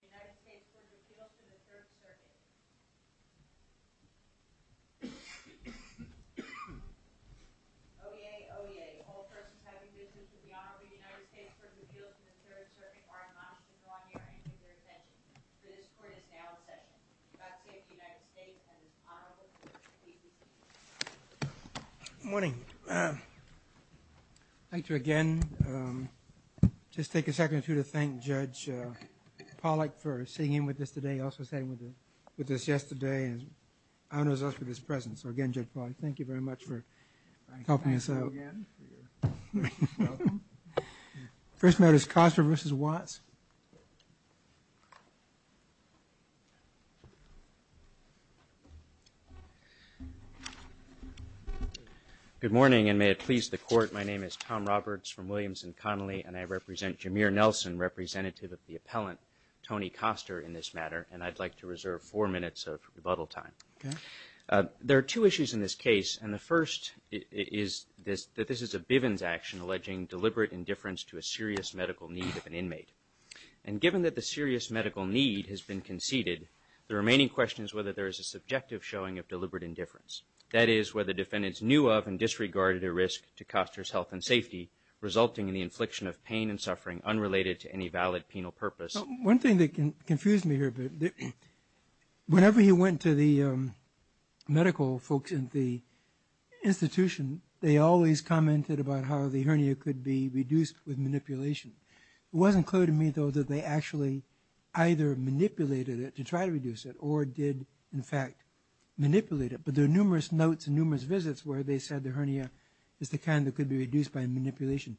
United States Court of Appeals to the Third Circuit. Oyez, oyez. All persons having business with the Honorable United States Court of Appeals to the Third Circuit are admonished to draw near and give their attention. For this court is now in session. God save the United States and its Honorable Court. Please be seated. Good morning. Thank you again. Just take a second or two to thank Judge Pollack for sitting in with us today. He also sat in with us yesterday and honors us with his presence. So again, Judge Pollack, thank you very much for helping us out. Thank you again for your welcome. First note is Coster v. Watts. Good morning, and may it please the Court. My name is Tom Roberts from Williams & Connolly, and I represent Jameer Nelson, representative of the appellant, Tony Coster, in this matter. And I'd like to reserve four minutes of rebuttal time. There are two issues in this case, and the first is that this is a Bivens action alleging deliberate indifference to a serious medical need of an inmate. And given that the serious medical need has been conceded, the remaining question is whether there is a subjective showing of deliberate indifference. That is, whether defendants knew of and disregarded a risk to Coster's health and safety, resulting in the infliction of pain and suffering unrelated to any valid penal purpose. One thing that confused me here, whenever he went to the medical folks at the institution, they always commented about how the hernia could be reduced with manipulation. It wasn't clear to me, though, that they actually either manipulated it to try to reduce it or did, in fact, manipulate it. But there are numerous notes and numerous visits where they said the hernia is the kind that could be reduced by manipulation.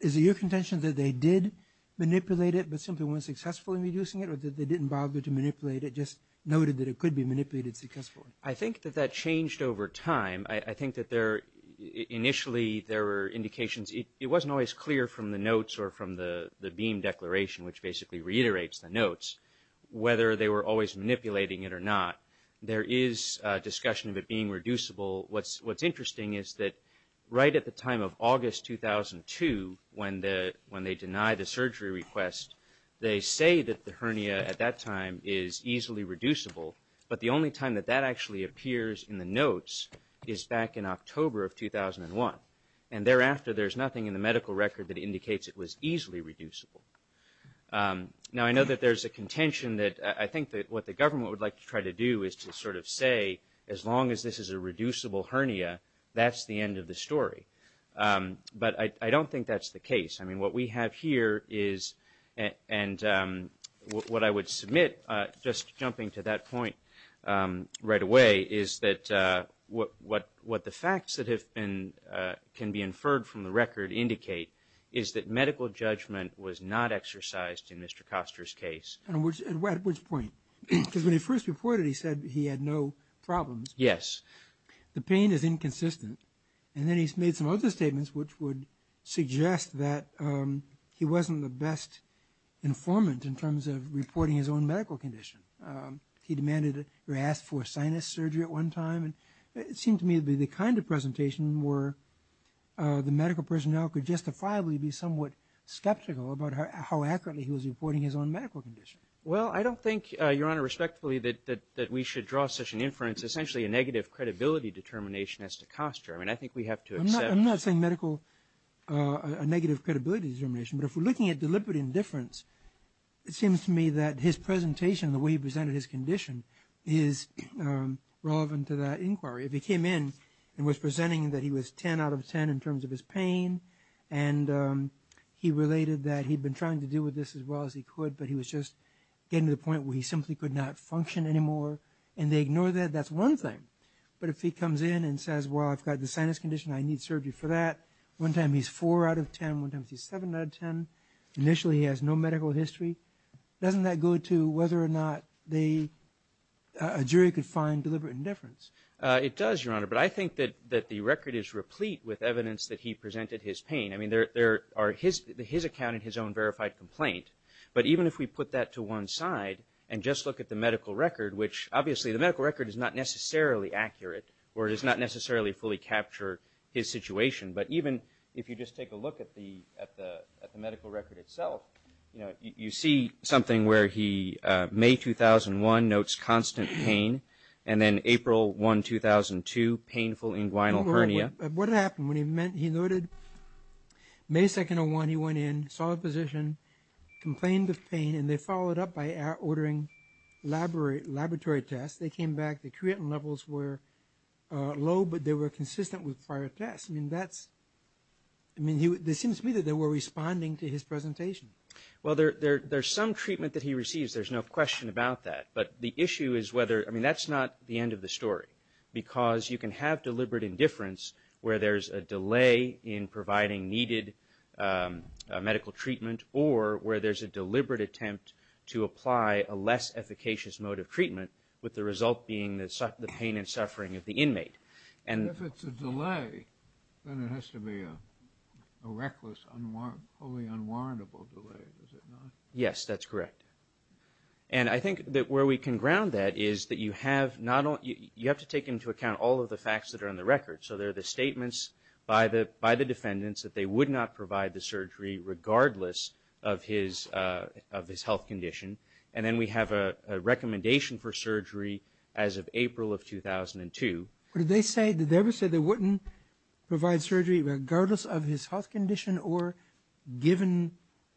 Is it your contention that they did manipulate it, but simply weren't successful in reducing it, or that they didn't bother to manipulate it, just noted that it could be manipulated successfully? I think that that changed over time. I think that initially there were indications. It wasn't always clear from the notes or from the beam declaration, which basically reiterates the notes, whether they were always manipulating it or not. There is discussion of it being reducible. What's interesting is that right at the time of August 2002, when they denied the surgery request, they say that the hernia at that time is easily reducible, but the only time that that actually appears in the notes is back in October of 2001. And thereafter, there's nothing in the medical record that indicates it was easily reducible. Now, I know that there's a contention that I think that what the government would like to try to do is to sort of say, as long as this is a reducible hernia, that's the end of the story. But I don't think that's the case. I mean, what we have here is, and what I would submit, just jumping to that point right away, is that what the facts that can be inferred from the record indicate is that medical judgment was not exercised in Mr. Koster's case. At which point? Because when he first reported, he said he had no problems. Yes. The pain is inconsistent. And then he's made some other statements which would suggest that he wasn't the best informant in terms of reporting his own medical condition. He demanded or asked for sinus surgery at one time. And it seemed to me to be the kind of presentation where the medical personnel could justifiably be somewhat skeptical about how accurately he was reporting his own medical condition. Well, I don't think, Your Honor, respectfully, that we should draw such an inference. Essentially, a negative credibility determination as to Koster. I mean, I think we have to accept. I'm not saying medical, a negative credibility determination. But if we're looking at deliberate indifference, it seems to me that his presentation, the way he presented his condition, is relevant to that inquiry. If he came in and was presenting that he was 10 out of 10 in terms of his pain, and he related that he'd been trying to deal with this as well as he could, but he was just getting to the point where he simply could not function anymore, and they ignore that, that's one thing. But if he comes in and says, well, I've got the sinus condition, I need surgery for that, one time he's 4 out of 10, one time he's 7 out of 10, initially he has no medical history, doesn't that go to whether or not a jury could find deliberate indifference? It does, Your Honor. But I think that the record is replete with evidence that he presented his pain. I mean, there are his account and his own verified complaint. But even if we put that to one side and just look at the medical record, which obviously the medical record is not necessarily accurate or does not necessarily fully capture his situation, but even if you just take a look at the medical record itself, you see something where he, May 2001, notes constant pain, and then April 1, 2002, painful inguinal hernia. What happened? He noted May 2, 2001, he went in, saw the physician, complained of pain, and they followed up by ordering laboratory tests. They came back. The creatinine levels were low, but they were consistent with prior tests. I mean, it seems to me that they were responding to his presentation. Well, there's some treatment that he receives. There's no question about that. But the issue is whether – I mean, that's not the end of the story, because you can have deliberate indifference where there's a delay in providing needed medical treatment or where there's a deliberate attempt to apply a less efficacious mode of treatment with the result being the pain and suffering of the inmate. And if it's a delay, then it has to be a reckless, wholly unwarrantable delay, does it not? Yes, that's correct. And I think that where we can ground that is that you have to take into account all of the facts that are in the record. So there are the statements by the defendants that they would not provide the surgery regardless of his health condition. And then we have a recommendation for surgery as of April of 2002. Did they ever say they wouldn't provide surgery regardless of his health condition or given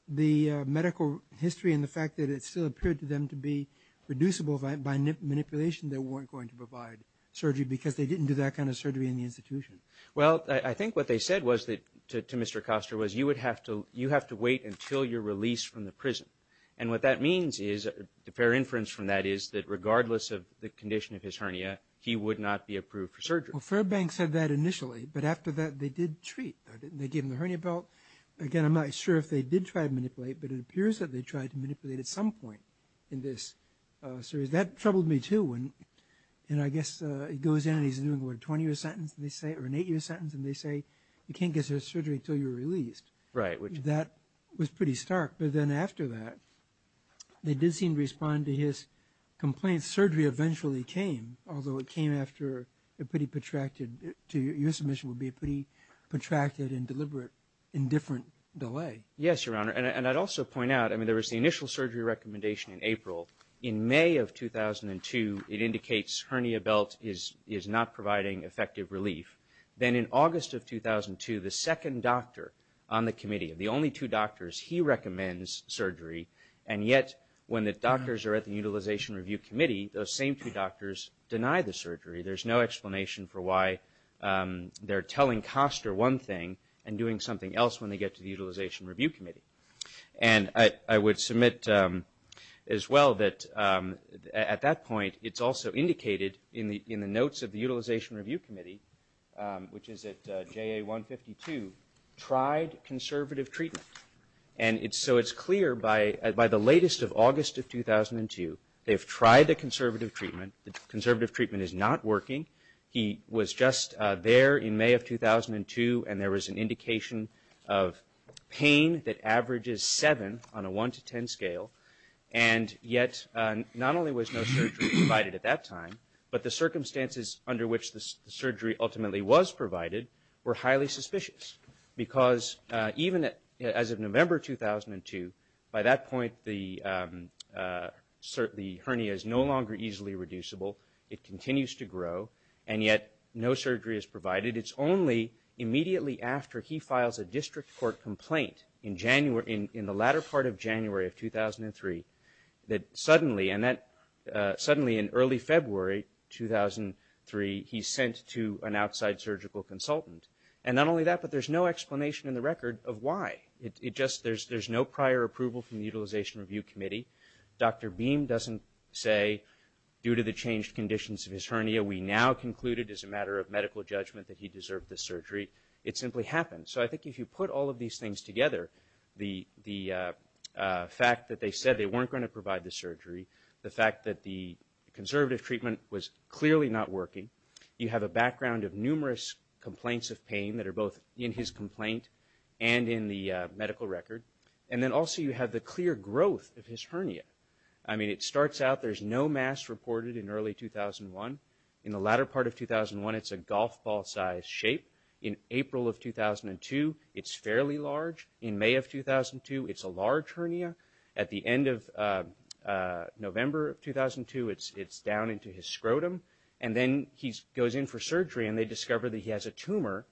the medical history and the fact that it still appeared to them to be reducible by manipulation, they weren't going to provide surgery because they didn't do that kind of surgery in the institution? Well, I think what they said to Mr. Koster was you have to wait until you're released from the prison. And what that means is – a fair inference from that is that regardless of the condition of his hernia, he would not be approved for surgery. Well, Fairbank said that initially, but after that they did treat. They gave him the hernia belt. Again, I'm not sure if they did try to manipulate, but it appears that they tried to manipulate at some point in this series. That troubled me, too. And I guess it goes in and he's doing what, a 20-year sentence, they say, or an eight-year sentence, and they say you can't get surgery until you're released. That was pretty stark. But then after that, they did seem to respond to his complaints. Surgery eventually came, although it came after a pretty protracted – your submission would be a pretty protracted and deliberate and different delay. Yes, Your Honor. And I'd also point out, I mean, there was the initial surgery recommendation in April. In May of 2002, it indicates hernia belt is not providing effective relief. Then in August of 2002, the second doctor on the committee, the only two doctors he recommends surgery, and yet when the doctors are at the Utilization Review Committee, those same two doctors deny the surgery. There's no explanation for why they're telling Koster one thing and doing something else when they get to the Utilization Review Committee. And I would submit as well that at that point, it's also indicated in the notes of the Utilization Review Committee, which is at JA 152, tried conservative treatment. And so it's clear by the latest of August of 2002, they've tried the conservative treatment. The conservative treatment is not working. He was just there in May of 2002, and there was an indication of pain that averages 7 on a 1 to 10 scale, and yet not only was no surgery provided at that time, but the circumstances under which the surgery ultimately was provided were highly suspicious. Because even as of November 2002, by that point, the hernia is no longer easily reducible. It continues to grow, and yet no surgery is provided. And it is only immediately after he files a district court complaint in the latter part of January of 2003, that suddenly in early February 2003, he's sent to an outside surgical consultant. And not only that, but there's no explanation in the record of why. There's no prior approval from the Utilization Review Committee. Dr. Beam doesn't say, due to the changed conditions of his hernia, we now concluded as a matter of medical judgment that he deserved this surgery. It simply happened. So I think if you put all of these things together, the fact that they said they weren't going to provide the surgery, the fact that the conservative treatment was clearly not working, you have a background of numerous complaints of pain that are both in his complaint and in the medical record, and then also you have the clear growth of his hernia. I mean, it starts out, there's no mass reported in early 2001. In the latter part of 2001, it's a golf ball-sized shape. In April of 2002, it's fairly large. In May of 2002, it's a large hernia. At the end of November of 2002, it's down into his scrotum. And then he goes in for surgery, and they discover that he has a tumor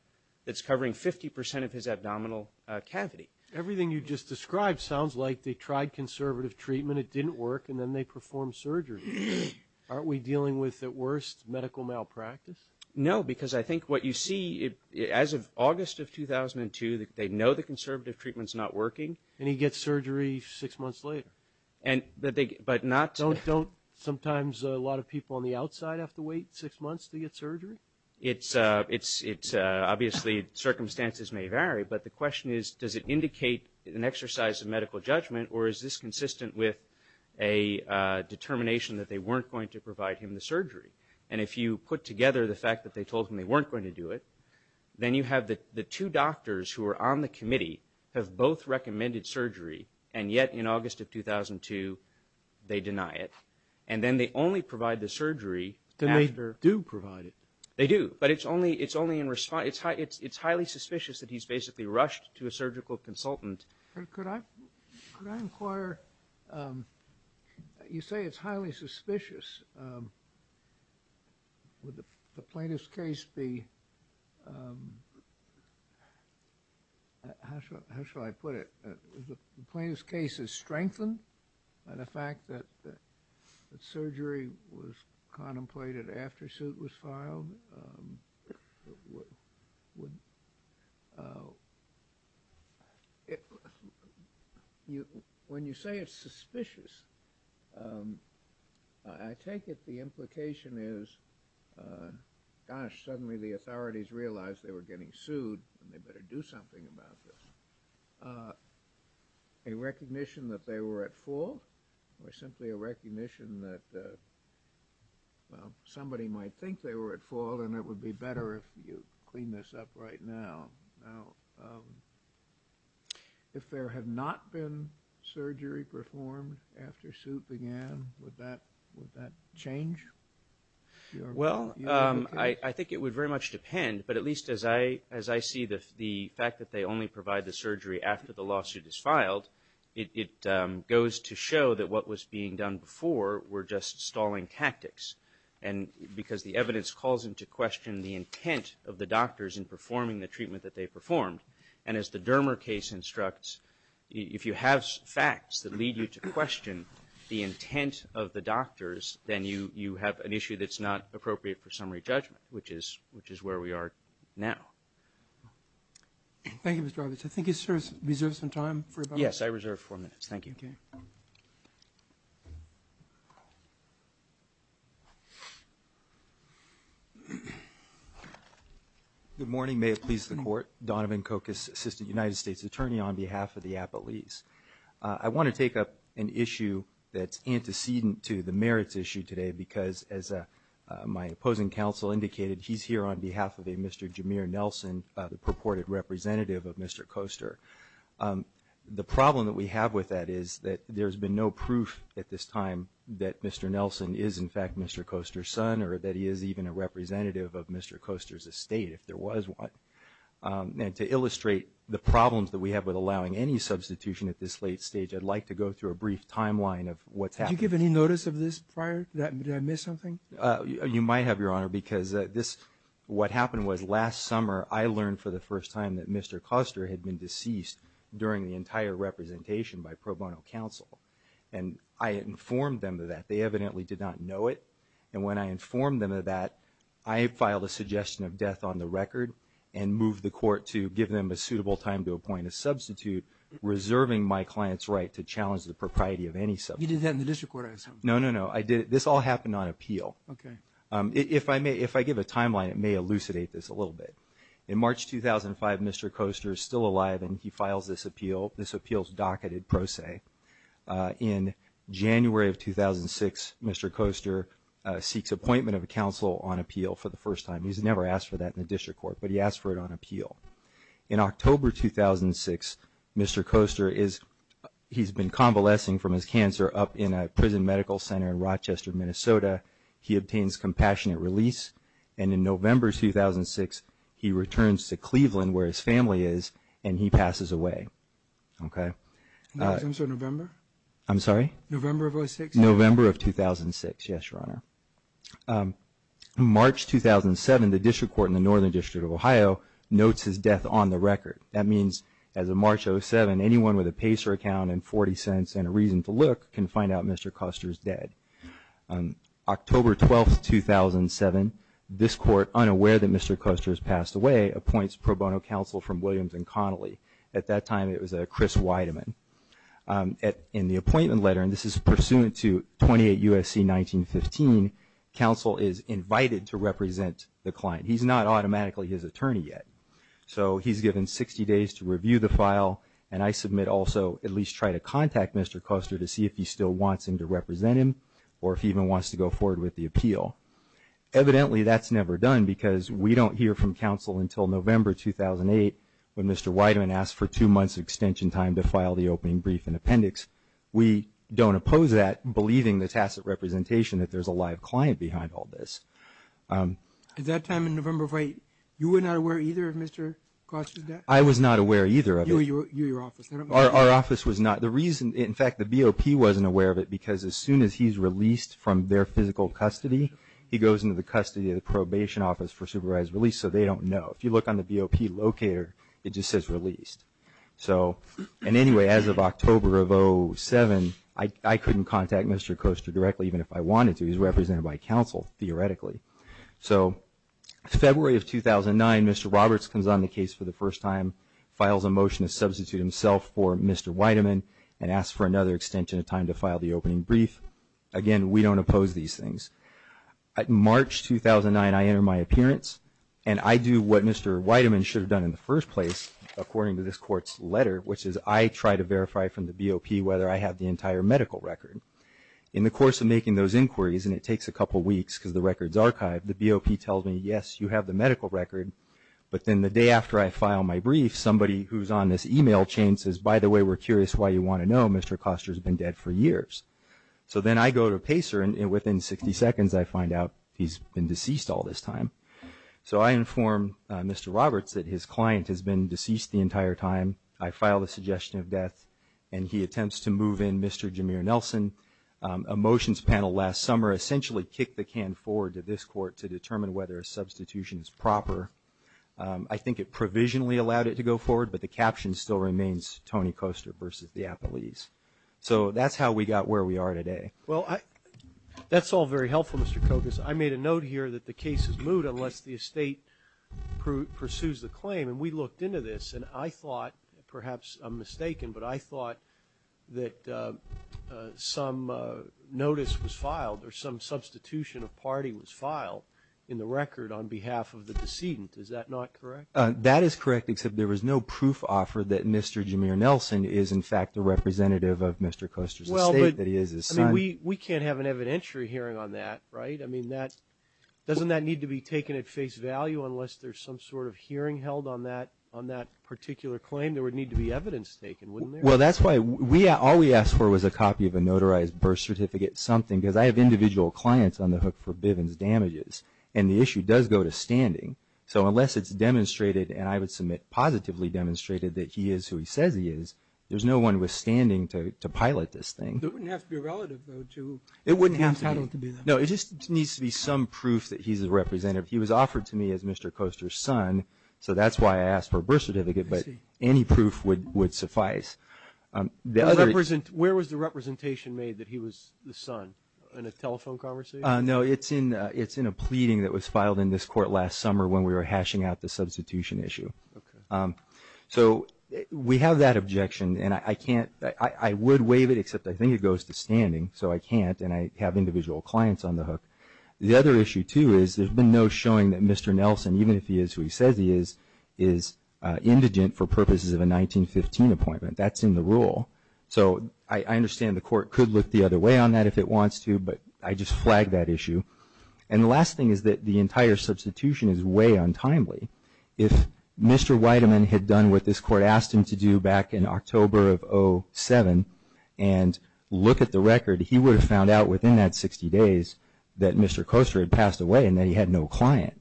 that's covering 50 percent of his abdominal cavity. Everything you just described sounds like they tried conservative treatment, it didn't work, and then they performed surgery. Aren't we dealing with, at worst, medical malpractice? No, because I think what you see, as of August of 2002, they know the conservative treatment's not working. And he gets surgery six months later. But not to the... Don't sometimes a lot of people on the outside have to wait six months to get surgery? Obviously, circumstances may vary. But the question is, does it indicate an exercise of medical judgment, or is this consistent with a determination that they weren't going to provide him the surgery? And if you put together the fact that they told him they weren't going to do it, then you have the two doctors who are on the committee have both recommended surgery, and yet in August of 2002, they deny it. And then they only provide the surgery after... Then they do provide it. They do. But it's only in response... It's highly suspicious that he's basically rushed to a surgical consultant. Could I inquire... You say it's highly suspicious. Would the plaintiff's case be... How shall I put it? The plaintiff's case is strengthened by the fact that surgery was contemplated after suit was filed. When you say it's suspicious, I take it the implication is, gosh, suddenly the authorities realized they were getting sued, and they better do something about this. A recognition that they were at fault, or simply a recognition that somebody might think they were at fault, and it would be better if you clean this up right now. If there had not been surgery performed after suit began, would that change? Well, I think it would very much depend, but at least as I see the fact that they only provide the surgery after the lawsuit is filed, it goes to show that what was being done before were just stalling tactics, because the evidence calls into question the intent of the doctors in performing the treatment that they performed. And as the Dermer case instructs, if you have facts that lead you to question the intent of the doctors, then you have an issue that's not appropriate for summary judgment, which is where we are now. Thank you, Mr. Roberts. I think you reserved some time for about a minute. Yes, I reserved four minutes. Thank you. Okay. Good morning. May it please the Court. Donovan Kokus, Assistant United States Attorney on behalf of the Appellees. I want to take up an issue that's antecedent to the merits issue today, because as my opposing counsel indicated, he's here on behalf of a Mr. Jameer Nelson, the purported representative of Mr. Koster. The problem that we have with that is that there's been no proof at this time that Mr. Nelson is, in fact, Mr. Koster's son or that he is even a representative of Mr. Koster's estate, if there was one. And to illustrate the problems that we have with allowing any substitution at this late stage, I'd like to go through a brief timeline of what's happened. Did you give any notice of this prior? Did I miss something? You might have, Your Honor, because what happened was last summer, I learned for the first time that Mr. Koster had been deceased during the entire representation by pro bono counsel. And I informed them of that. They evidently did not know it. And when I informed them of that, I filed a suggestion of death on the record and moved the court to give them a suitable time to appoint a substitute, reserving my client's right to challenge the propriety of any substitute. You did that in the district court, I assume? No, no, no. This all happened on appeal. Okay. If I give a timeline, it may elucidate this a little bit. In March 2005, Mr. Koster is still alive, and he files this appeal. This appeal is docketed pro se. In January of 2006, Mr. Koster seeks appointment of a counsel on appeal for the first time. He's never asked for that in the district court, but he asked for it on appeal. In October 2006, Mr. Koster, he's been convalescing from his cancer up in a prison medical center in Rochester, Minnesota. He obtains compassionate release. And in November 2006, he returns to Cleveland, where his family is, and he passes away. Okay. November? I'm sorry? November of 2006? November of 2006, yes, Your Honor. In March 2007, the district court in the Northern District of Ohio notes his death on the record. That means as of March 2007, anyone with a PACER account and 40 cents and a reason to look can find out Mr. Koster is dead. October 12, 2007, this court, unaware that Mr. Koster has passed away, appoints pro bono counsel from Williams and Connolly. At that time, it was Chris Weideman. In the appointment letter, and this is pursuant to 28 U.S.C. 1915, counsel is invited to represent the client. He's not automatically his attorney yet. So he's given 60 days to review the file, and I submit also at least try to contact Mr. Koster to see if he still wants him to represent him or if he even wants to go forward with the appeal. Evidently, that's never done because we don't hear from counsel until November 2008 when Mr. Weideman asked for two months extension time to file the opening brief and appendix. We don't oppose that, believing the tacit representation that there's a live client behind all this. At that time in November 2008, you were not aware either of Mr. Koster's death? I was not aware either of it. You or your office? Our office was not. The reason, in fact, the BOP wasn't aware of it because as soon as he's released from their physical custody, he goes into the custody of the probation office for supervised release, so they don't know. If you look on the BOP locator, it just says released. So anyway, as of October of 2007, I couldn't contact Mr. Koster directly even if I wanted to. He's represented by counsel theoretically. So February of 2009, Mr. Roberts comes on the case for the first time, files a motion to substitute himself for Mr. Weideman, and asks for another extension of time to file the opening brief. Again, we don't oppose these things. March 2009, I enter my appearance, and I do what Mr. Weideman should have done in the first place, according to this court's letter, which is I try to verify from the BOP whether I have the entire medical record. In the course of making those inquiries, and it takes a couple weeks because the record's archived, the BOP tells me, yes, you have the medical record. But then the day after I file my brief, somebody who's on this e-mail chain says, by the way, we're curious why you want to know. Mr. Koster's been dead for years. So then I go to Pacer, and within 60 seconds I find out he's been deceased all this time. So I inform Mr. Roberts that his client has been deceased the entire time. I file the suggestion of death, and he attempts to move in Mr. Jameer Nelson. A motions panel last summer essentially kicked the can forward to this court to determine whether a substitution is proper. I think it provisionally allowed it to go forward, but the caption still remains, Tony Koster versus the appellees. So that's how we got where we are today. Well, that's all very helpful, Mr. Koster. I made a note here that the case is moot unless the estate pursues the claim, and we looked into this, and I thought, perhaps I'm mistaken, but I thought that some notice was filed or some substitution of party was filed in the record on behalf of the decedent. Is that not correct? That is correct, except there was no proof offered that Mr. Jameer Nelson is, in fact, the representative of Mr. Koster's estate, that he is his son. I mean, we can't have an evidentiary hearing on that, right? I mean, doesn't that need to be taken at face value, unless there's some sort of hearing held on that particular claim? There would need to be evidence taken, wouldn't there? Well, that's why all we asked for was a copy of a notarized birth certificate, something, because I have individual clients on the hook for Bivens damages, and the issue does go to standing. So unless it's demonstrated, and I would submit positively demonstrated, that he is who he says he is, there's no one withstanding to pilot this thing. It wouldn't have to be a relative, though, to him having to be there. No, it just needs to be some proof that he's a representative. He was offered to me as Mr. Koster's son, so that's why I asked for a birth certificate, but any proof would suffice. Where was the representation made that he was the son? In a telephone conversation? No, it's in a pleading that was filed in this court last summer when we were hashing out the substitution issue. So we have that objection, and I would waive it, except I think it goes to standing, so I can't, and I have individual clients on the hook. The other issue, too, is there's been no showing that Mr. Nelson, even if he is who he says he is, is indigent for purposes of a 1915 appointment. That's in the rule. So I understand the court could look the other way on that if it wants to, but I just flag that issue. And the last thing is that the entire substitution is way untimely. If Mr. Whiteman had done what this court asked him to do back in October of 07 and look at the record, he would have found out within that 60 days that Mr. Koster had passed away and that he had no client.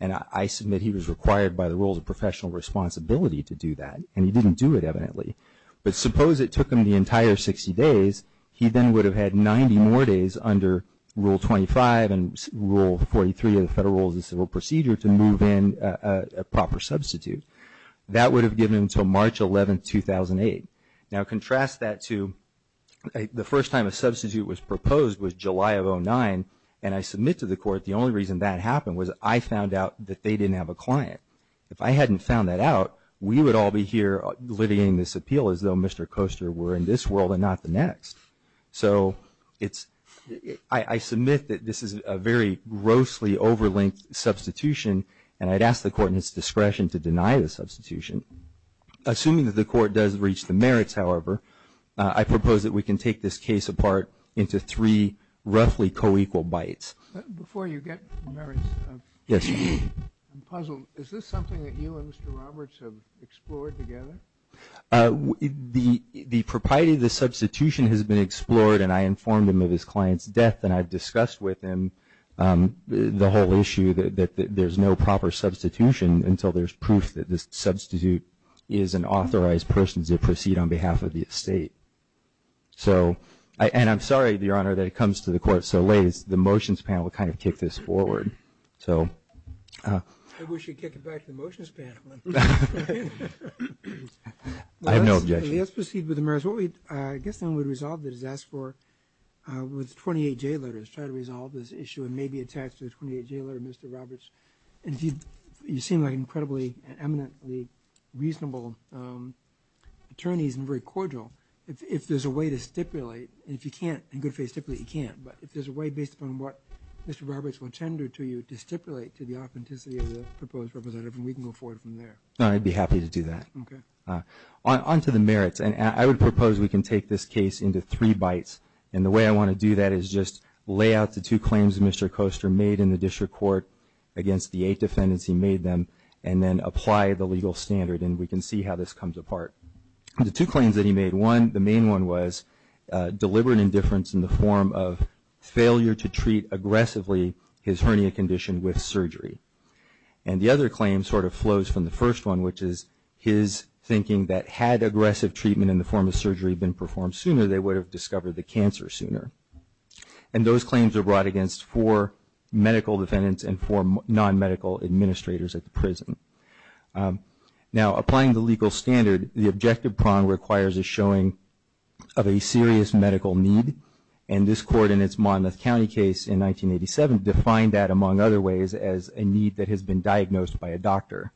And I submit he was required by the rules of professional responsibility to do that, and he didn't do it evidently. But suppose it took him the entire 60 days, he then would have had 90 more days under Rule 25 and Rule 43 of the Federal Rules of Civil Procedure to move in a proper substitute. That would have given him until March 11, 2008. Now contrast that to the first time a substitute was proposed was July of 09, and I submit to the court the only reason that happened was I found out that they didn't have a client. If I hadn't found that out, we would all be here litigating this appeal as though Mr. Koster were in this world and not the next. So it's – I submit that this is a very grossly overlinked substitution and I'd ask the court in its discretion to deny the substitution. Assuming that the court does reach the merits, however, I propose that we can take this case apart into three roughly co-equal bites. Before you get merits, I'm puzzled. Is this something that you and Mr. Roberts have explored together? The propriety of the substitution has been explored and I informed him of his client's death and I've discussed with him the whole issue that there's no proper substitution until there's proof that the substitute is an authorized person to proceed on behalf of the estate. So – and I'm sorry, Your Honor, that it comes to the court so late. The motions panel kind of kicked this forward. So – I wish you'd kick it back to the motions panel. I have no objection. Let's proceed with the merits. What we – I guess then we'd resolve the disaster with 28 J letters, try to resolve this issue and maybe attach to the 28 J letter Mr. Roberts. And if you seem like incredibly and eminently reasonable attorneys and very cordial, if there's a way to stipulate, and if you can't in good faith stipulate, you can't, but if there's a way based upon what Mr. Roberts will tender to you to stipulate to the authenticity of the proposed representative, we can go forward from there. No, I'd be happy to do that. Okay. On to the merits. And I would propose we can take this case into three bites. And the way I want to do that is just lay out the two claims Mr. Koester made in the district court against the eight defendants he made them and then apply the legal standard and we can see how this comes apart. The two claims that he made, one, the main one was deliberate indifference in the form of failure to treat aggressively his hernia condition with surgery. And the other claim sort of flows from the first one, which is his thinking that had aggressive treatment in the form of surgery been performed sooner, they would have discovered the cancer sooner. And those claims are brought against four medical defendants and four non-medical administrators at the prison. Now, applying the legal standard, the objective prong requires a showing of a serious medical need, and this court in its Monmouth County case in 1987 defined that, among other ways, as a need that has been diagnosed by a doctor.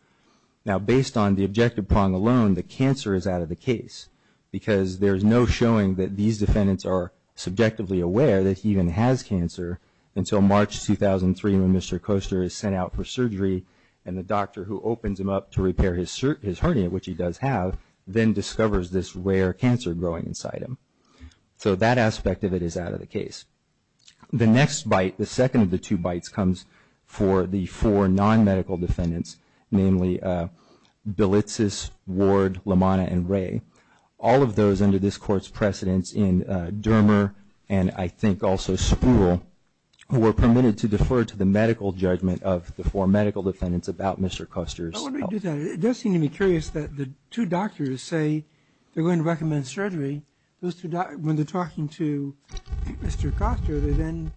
Now, based on the objective prong alone, the cancer is out of the case because there is no showing that these defendants are subjectively aware that he even has cancer until March 2003 when Mr. Koester is sent out for surgery and the doctor who opens him up to repair his hernia, which he does have, then discovers this rare cancer growing inside him. So that aspect of it is out of the case. The next bite, the second of the two bites, comes for the four non-medical defendants, namely Belitsis, Ward, LaManna, and Ray, all of those under this court's precedence in Dermer and I think also Spruill, who were permitted to defer to the medical judgment of the four medical defendants about Mr. Koester's health. Let me do that. It does seem to me curious that the two doctors say they're going to recommend surgery. When they're talking to Mr. Koester, they then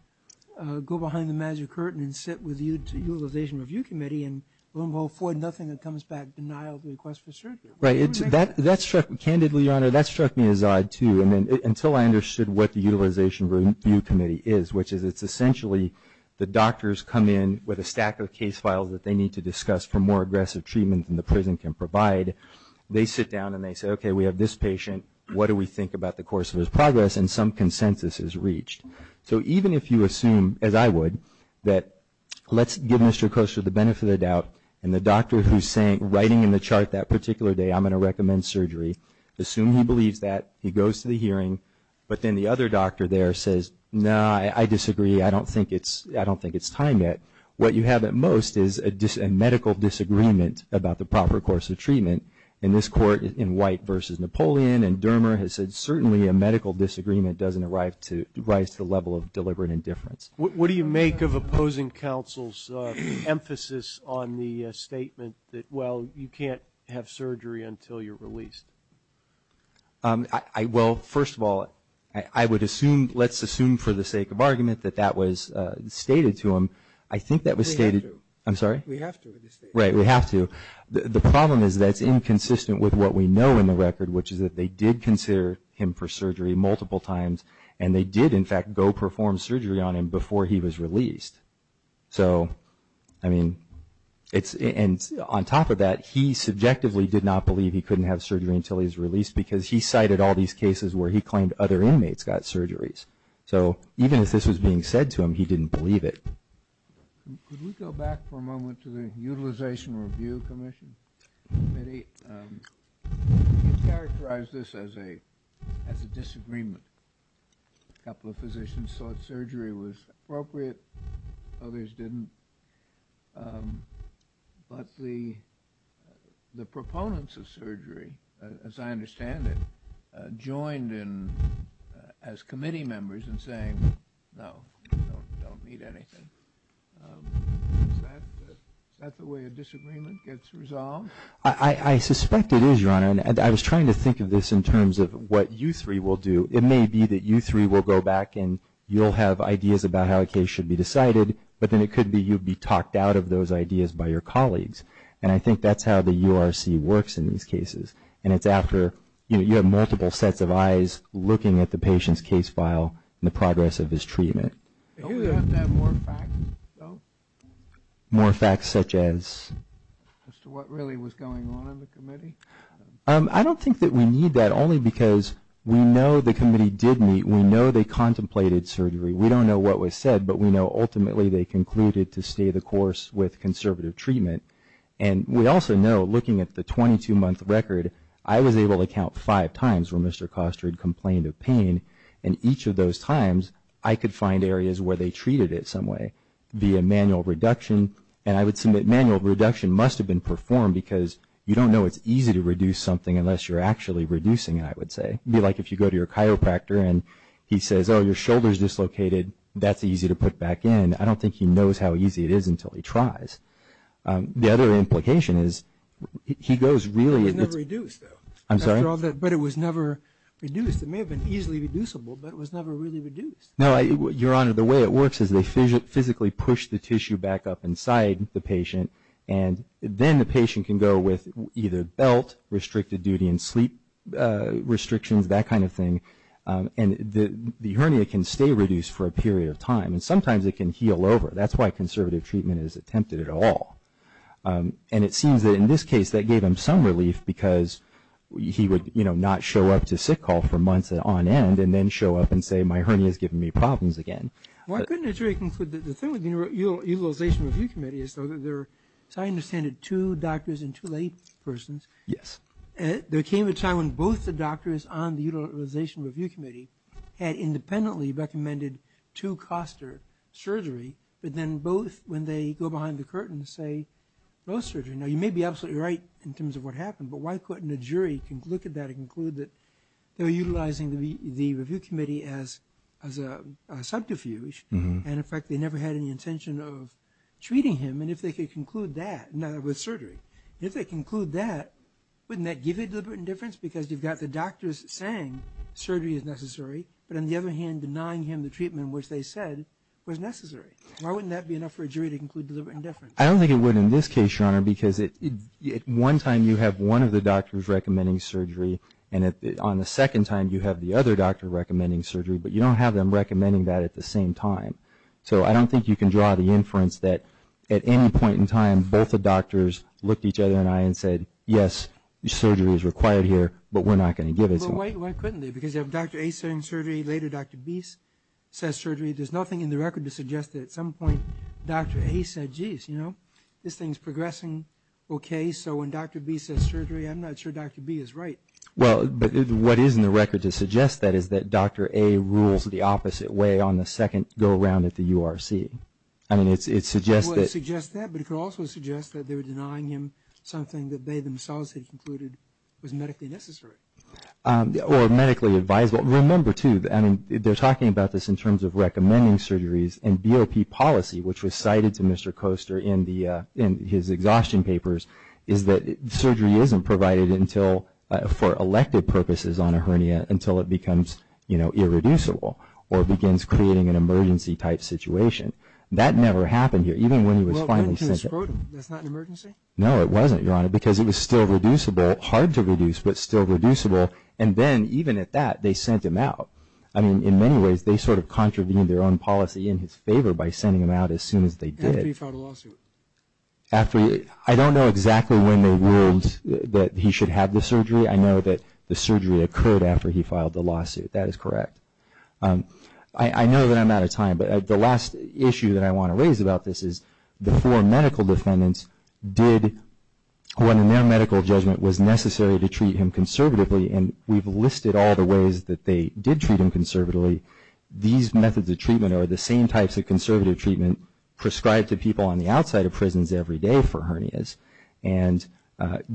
go behind the magic curtain and sit with the Utilization Review Committee and will avoid nothing that comes back denial of the request for surgery. Right. That struck me, candidly, Your Honor, that struck me as odd, too, until I understood what the Utilization Review Committee is, which is it's essentially the doctors come in with a stack of case files that they need to discuss for more aggressive treatment than the prison can provide. They sit down and they say, okay, we have this patient. What do we think about the course of his progress? And some consensus is reached. So even if you assume, as I would, that let's give Mr. Koester the benefit of the doubt and the doctor who's writing in the chart that particular day, I'm going to recommend surgery, assume he believes that, he goes to the hearing, but then the other doctor there says, no, I disagree, I don't think it's time yet. What you have at most is a medical disagreement about the proper course of treatment. In this court, in White v. Napoleon, and Dermer has said certainly a medical disagreement doesn't arise to the level of deliberate indifference. What do you make of opposing counsel's emphasis on the statement that, well, you can't have surgery until you're released? Well, first of all, I would assume, let's assume for the sake of argument that that was stated to him. I think that was stated. We have to. I'm sorry? We have to. Right, we have to. The problem is that's inconsistent with what we know in the record, which is that they did consider him for surgery multiple times, and they did, in fact, go perform surgery on him before he was released. So, I mean, and on top of that, he subjectively did not believe he couldn't have surgery until he was released because he cited all these cases where he claimed other inmates got surgeries. So even if this was being said to him, he didn't believe it. Could we go back for a moment to the Utilization Review Commission? You characterized this as a disagreement. A couple of physicians thought surgery was appropriate. Others didn't. But the proponents of surgery, as I understand it, joined in as committee members in saying, no, we don't need anything. Is that the way a disagreement gets resolved? I suspect it is, Your Honor, and I was trying to think of this in terms of what you three will do. It may be that you three will go back and you'll have ideas about how a case should be decided, but then it could be you'll be talked out of those ideas by your colleagues. And I think that's how the URC works in these cases. And it's after, you know, you have multiple sets of eyes looking at the patient's case file and the progress of his treatment. Don't we have to have more facts, though? More facts such as? As to what really was going on in the committee? I don't think that we need that, only because we know the committee did meet. We know they contemplated surgery. We don't know what was said, but we know ultimately they concluded to stay the course with conservative treatment. And we also know, looking at the 22-month record, I was able to count five times where Mr. Koster had complained of pain, and each of those times I could find areas where they treated it some way via manual reduction. And I would submit manual reduction must have been performed because you don't know it's easy to reduce something unless you're actually reducing it, I would say. It would be like if you go to your chiropractor and he says, oh, your shoulder's dislocated, that's easy to put back in. I don't think he knows how easy it is until he tries. The other implication is he goes really – It was never reduced, though. I'm sorry? But it was never reduced. It may have been easily reducible, but it was never really reduced. No, Your Honor, the way it works is they physically push the tissue back up inside the patient, and then the patient can go with either belt, restricted duty and sleep restrictions, that kind of thing, and the hernia can stay reduced for a period of time. And sometimes it can heal over. That's why conservative treatment is attempted at all. And it seems that in this case that gave him some relief because he would, you know, not show up to sick call for months on end and then show up and say, my hernia's giving me problems again. Well, I couldn't agree with you. The thing with the Utilization Review Committee is, as I understand it, two doctors and two laypersons. Yes. There came a time when both the doctors on the Utilization Review Committee had independently recommended two-cluster surgery, but then both, when they go behind the curtain, say no surgery. Now, you may be absolutely right in terms of what happened, but why couldn't a jury look at that and conclude that they were utilizing the review committee as a subterfuge and, in fact, they never had any intention of treating him, and if they could conclude that with surgery? If they conclude that, wouldn't that give you deliberate indifference? Because you've got the doctors saying surgery is necessary, but on the other hand, denying him the treatment which they said was necessary. Why wouldn't that be enough for a jury to conclude deliberate indifference? I don't think it would in this case, Your Honor, because at one time you have one of the doctors recommending surgery, and on the second time you have the other doctor recommending surgery, but you don't have them recommending that at the same time. So I don't think you can draw the inference that at any point in time both the doctors looked each other in the eye and said, yes, surgery is required here, but we're not going to give it to them. Well, why couldn't they? Because you have Dr. A saying surgery, later Dr. B says surgery. There's nothing in the record to suggest that at some point Dr. A said, geez, you know, this thing's progressing okay, so when Dr. B says surgery, I'm not sure Dr. B is right. Well, what is in the record to suggest that is that Dr. A rules the opposite way on the second go around at the URC. I mean, it suggests that. It would suggest that, but it could also suggest that they were denying him something that they themselves had concluded was medically necessary. Or medically advisable. Remember, too, I mean, they're talking about this in terms of recommending surgeries, and BOP policy, which was cited to Mr. Koester in his exhaustion papers, is that surgery isn't provided for elective purposes on a hernia until it becomes irreducible or begins creating an emergency-type situation. That never happened here, even when he was finally sent out. Well, why didn't you just scrote him? That's not an emergency? No, it wasn't, Your Honor, because it was still reducible, hard to reduce, but still reducible, and then even at that they sent him out. I mean, in many ways, they sort of contravened their own policy in his favor by sending him out as soon as they did. After he filed a lawsuit? I don't know exactly when they ruled that he should have the surgery. I know that the surgery occurred after he filed the lawsuit. That is correct. I know that I'm out of time, but the last issue that I want to raise about this is the four medical defendants did, when their medical judgment was necessary to treat him conservatively, and we've listed all the ways that they did treat him conservatively. These methods of treatment are the same types of conservative treatment prescribed to people on the outside of prisons every day for hernias, and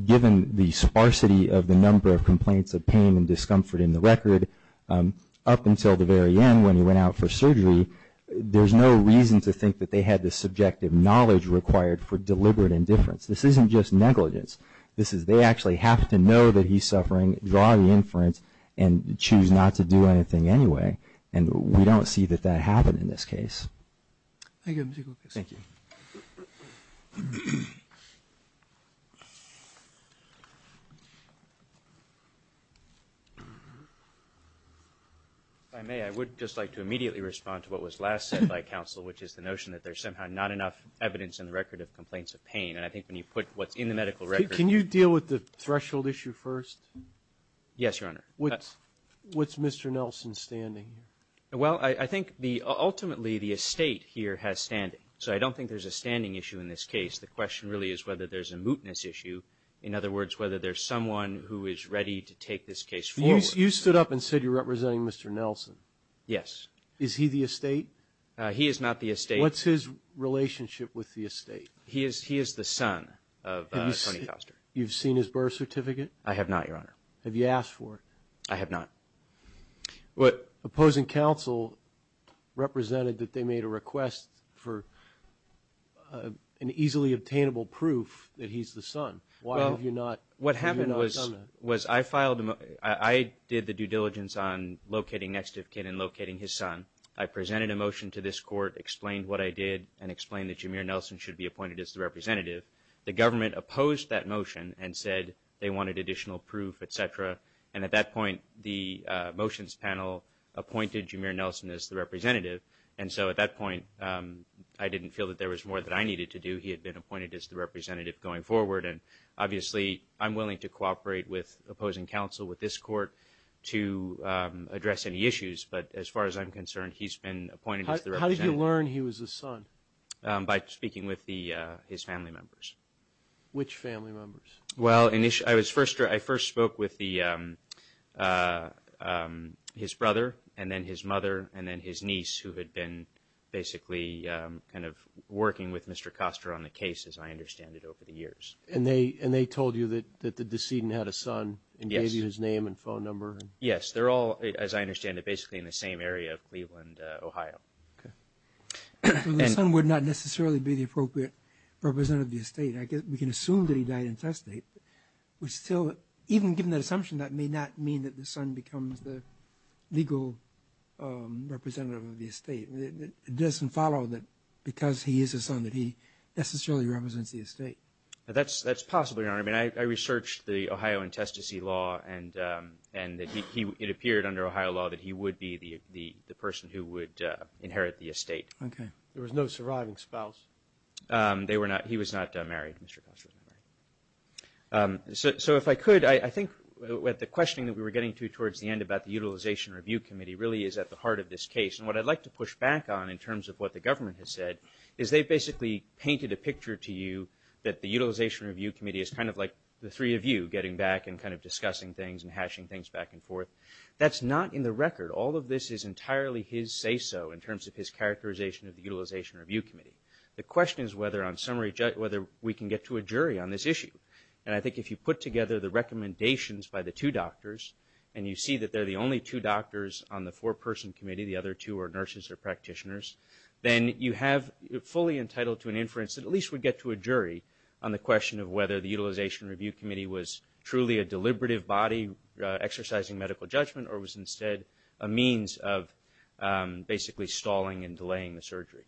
given the sparsity of the number of complaints of pain and discomfort in the record, up until the very end when he went out for surgery, there's no reason to think that they had the subjective knowledge required for deliberate indifference. This isn't just negligence. This is they actually have to know that he's suffering, draw the inference, and choose not to do anything anyway, and we don't see that that happened in this case. Thank you. If I may, I would just like to immediately respond to what was last said by counsel, which is the notion that there's somehow not enough evidence in the record of complaints of pain, and I think when you put what's in the medical record ---- Can you deal with the threshold issue first? Yes, Your Honor. What's Mr. Nelson's standing here? Well, I think the ultimately the estate here has standing. So I don't think there's a standing issue in this case. The question really is whether there's a mootness issue, in other words, whether there's someone who is ready to take this case forward. You stood up and said you're representing Mr. Nelson. Yes. Is he the estate? He is not the estate. What's his relationship with the estate? He is the son of Tony Foster. You've seen his birth certificate? I have not, Your Honor. Have you asked for it? I have not. But opposing counsel represented that they made a request for an easily obtainable proof that he's the son. Why have you not done that? Well, what happened was I did the due diligence on locating next of kin and locating his son. I presented a motion to this court, explained what I did and explained that Jameer Nelson should be appointed as the representative. The government opposed that motion and said they wanted additional proof, et cetera. And at that point, the motions panel appointed Jameer Nelson as the representative. And so at that point, I didn't feel that there was more that I needed to do. He had been appointed as the representative going forward. And obviously I'm willing to cooperate with opposing counsel with this court to address any issues. But as far as I'm concerned, he's been appointed as the representative. How did you learn he was the son? By speaking with his family members. Which family members? Well, I first spoke with his brother and then his mother and then his niece, who had been basically kind of working with Mr. Koster on the case, as I understand it, over the years. And they told you that the decedent had a son and gave you his name and phone number? Yes. They're all, as I understand it, basically in the same area of Cleveland, Ohio. Okay. So the son would not necessarily be the appropriate representative of the estate. We can assume that he died intestate, which still, even given that assumption, that may not mean that the son becomes the legal representative of the estate. It doesn't follow that because he is a son that he necessarily represents the estate. That's possible, Your Honor. I mean, I researched the Ohio intestacy law and it appeared under Ohio law that he would be the person who would inherit the estate. Okay. There was no surviving spouse? They were not. He was not married. Mr. Koster was not married. So if I could, I think what the questioning that we were getting to towards the end about the Utilization Review Committee really is at the heart of this case. And what I'd like to push back on in terms of what the government has said is they basically painted a picture to you that the Utilization Review Committee is kind of like the three of you getting back and kind of discussing things and hashing things back and forth. That's not in the record. All of this is entirely his say-so in terms of his characterization of the Utilization Review Committee. The question is whether we can get to a jury on this issue. And I think if you put together the recommendations by the two doctors and you see that they're the only two doctors on the four-person committee, the other two are nurses or practitioners, then you have fully entitled to an inference that at least would get to a jury on the question of whether the Utilization Review Committee was truly a deliberative body exercising medical judgment or was instead a means of basically stalling and delaying the surgery.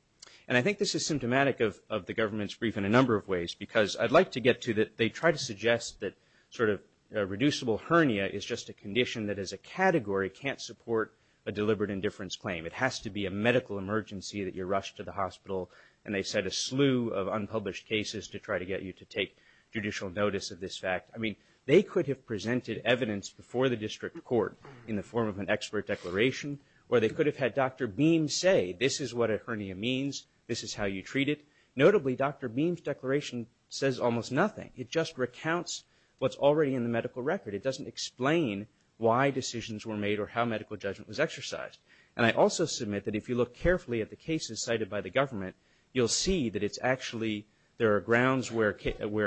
And I think this is symptomatic of the government's brief in a number of ways because I'd like to get to that they try to suggest that sort of reducible hernia is just a condition that as a category can't support a deliberate indifference claim. It has to be a medical emergency that you're rushed to the hospital. And they set a slew of unpublished cases to try to get you to take judicial notice of this fact. I mean, they could have presented evidence before the district court in the form of an expert declaration or they could have had Dr. Beam say this is what a hernia means, this is how you treat it. Notably, Dr. Beam's declaration says almost nothing. It just recounts what's already in the medical record. It doesn't explain why decisions were made or how medical judgment was exercised. And I also submit that if you look carefully at the cases cited by the government, you'll see that it's actually there are grounds where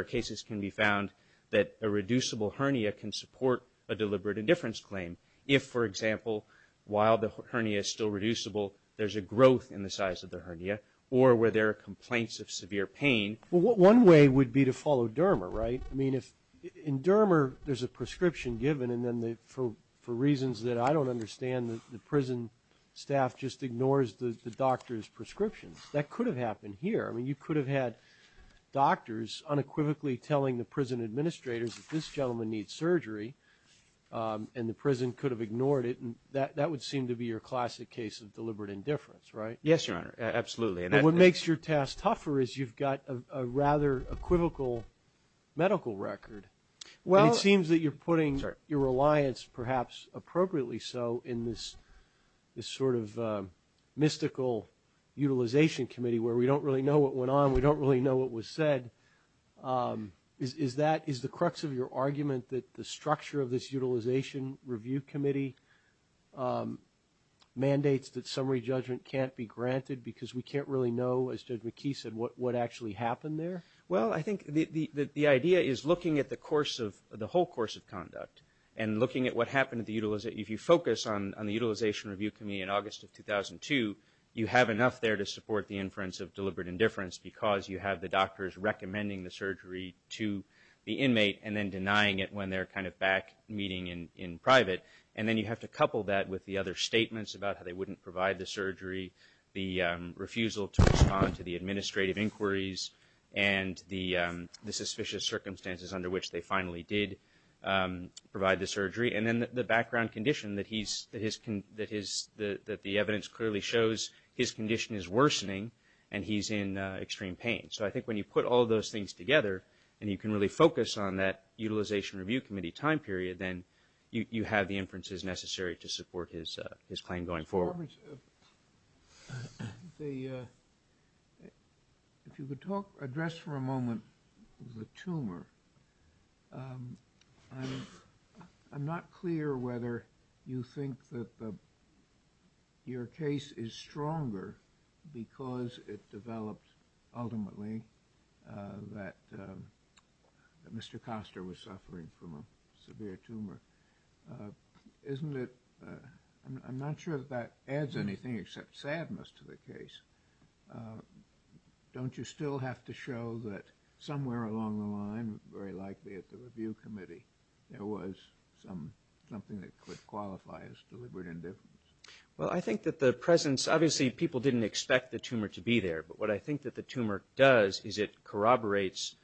cases can be found that a reducible hernia can support a deliberate indifference claim if, for example, while the hernia is still reducible, there's a growth in the size of the hernia or where there are complaints of severe pain. Well, one way would be to follow DERMA, right? I mean, in DERMA there's a prescription given and then for reasons that I don't understand, the prison staff just ignores the doctor's prescriptions. That could have happened here. I mean, you could have had doctors unequivocally telling the prison administrators that this gentleman needs surgery and the prison could have ignored it and that would seem to be your classic case of deliberate indifference, right? Yes, Your Honor, absolutely. And what makes your task tougher is you've got a rather equivocal medical record. It seems that you're putting your reliance, perhaps appropriately so, in this sort of mystical utilization committee where we don't really know what went on, we don't really know what was said. Is the crux of your argument that the structure of this utilization review committee mandates that summary judgment can't be granted because we can't really know, as Judge McKee said, what actually happened there? Well, I think the idea is looking at the whole course of conduct and looking at what happened at the utilization. If you focus on the utilization review committee in August of 2002, you have enough there to support the inference of deliberate indifference because you have the doctors recommending the surgery to the inmate and then denying it when they're kind of back meeting in private. And then you have to couple that with the other statements about how they wouldn't provide the surgery, the refusal to respond to the administrative inquiries, and the suspicious circumstances under which they finally did provide the surgery. And then the background condition that the evidence clearly shows his condition is worsening and he's in extreme pain. So I think when you put all those things together and you can really focus on that utilization review committee time period, then you have the inferences necessary to support his claim going forward. Mr. Roberts, if you could address for a moment the tumor. I'm not clear whether you think that your case is stronger because it developed ultimately that Mr. Koster was suffering from a severe tumor. I'm not sure if that adds anything except sadness to the case. Don't you still have to show that somewhere along the line, very likely at the review committee, there was something that could qualify as deliberate indifference? Well, I think that the presence, obviously people didn't expect the tumor to be there. But what I think that the tumor does is it corroborates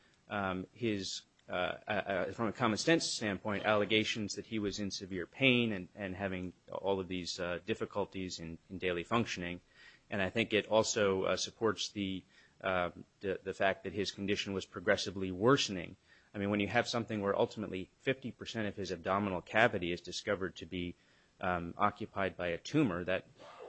his, from a common sense standpoint, allegations that he was in severe pain and having all of these difficulties in daily functioning. And I think it also supports the fact that his condition was progressively worsening. I mean, when you have something where ultimately 50 percent of his abdominal cavity is discovered to be occupied by a tumor,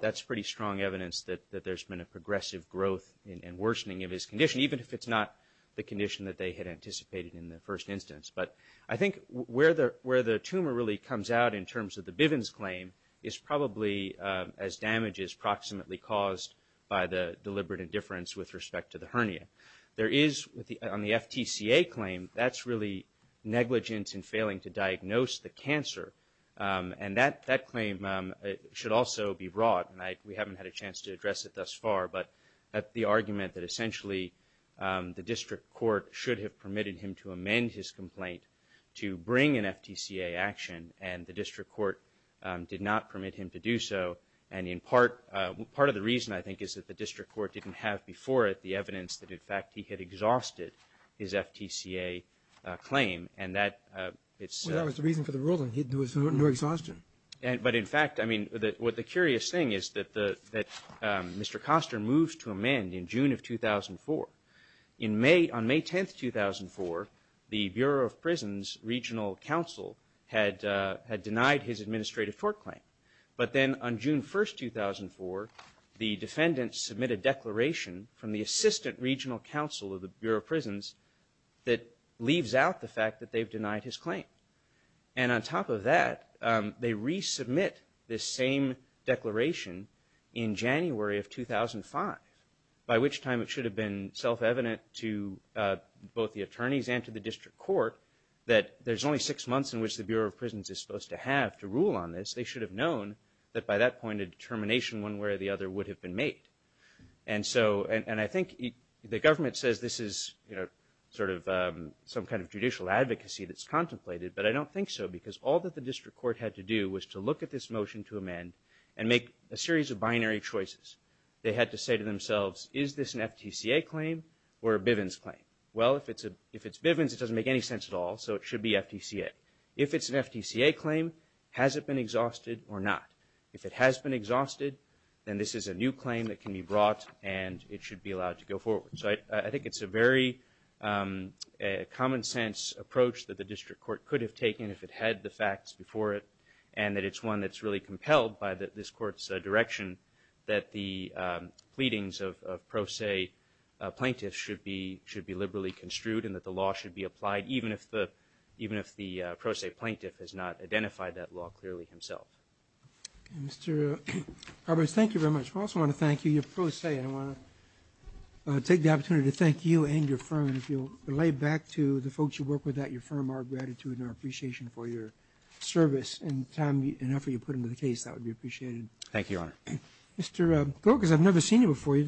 that's pretty strong evidence that there's been a progressive growth and worsening of his condition, even if it's not the condition that they had anticipated in the first instance. But I think where the tumor really comes out in terms of the Bivens claim is probably as damage as proximately caused by the deliberate indifference with respect to the hernia. There is, on the FTCA claim, that's really negligence in failing to diagnose the cancer. And that claim should also be brought, and we haven't had a chance to address it thus far, but the argument that essentially the district court should have permitted him to amend his complaint to bring an FTCA action, and the district court did not permit him to do so. And in part, part of the reason, I think, is that the district court didn't have before it the evidence that, in fact, he had exhausted his FTCA claim, and that it's- Well, that was the reason for the ruling. He was under exhaustion. But in fact, I mean, what the curious thing is that Mr. Koster moves to amend in June of 2004. On May 10th, 2004, the Bureau of Prisons Regional Council had denied his administrative court claim. But then on June 1st, 2004, the defendants submit a declaration from the assistant regional council of the Bureau of Prisons that leaves out the fact that they've denied his claim. And on top of that, they resubmit this same declaration in January of 2005, by which time it should have been self-evident to both the attorneys and to the district court that there's only six months in which the Bureau of Prisons is supposed to have to rule on this. They should have known that by that point a determination one way or the other would have been made. And so, and I think the government says this is sort of some kind of judicial advocacy that's contemplated, but I don't think so because all that the district court had to do was to look at this motion to amend and make a series of binary choices. They had to say to themselves, is this an FTCA claim or a Bivens claim? Well, if it's Bivens, it doesn't make any sense at all, so it should be FTCA. If it's an FTCA claim, has it been exhausted or not? If it has been exhausted, then this is a new claim that can be brought and it should be allowed to go forward. So I think it's a very common-sense approach that the district court could have taken if it had the facts before it and that it's one that's really compelled by this court's direction that the pleadings of pro se plaintiffs should be liberally construed and that the law should be applied even if the pro se plaintiff has not identified that law clearly himself. Mr. Carbos, thank you very much. I also want to thank you. You're pro se and I want to take the opportunity to thank you and your firm and if you'll relay back to the folks you work with at your firm our gratitude and our appreciation for your service and time and effort you put into the case, that would be appreciated. Thank you, Your Honor. Mr. Grokas, I've never seen you before.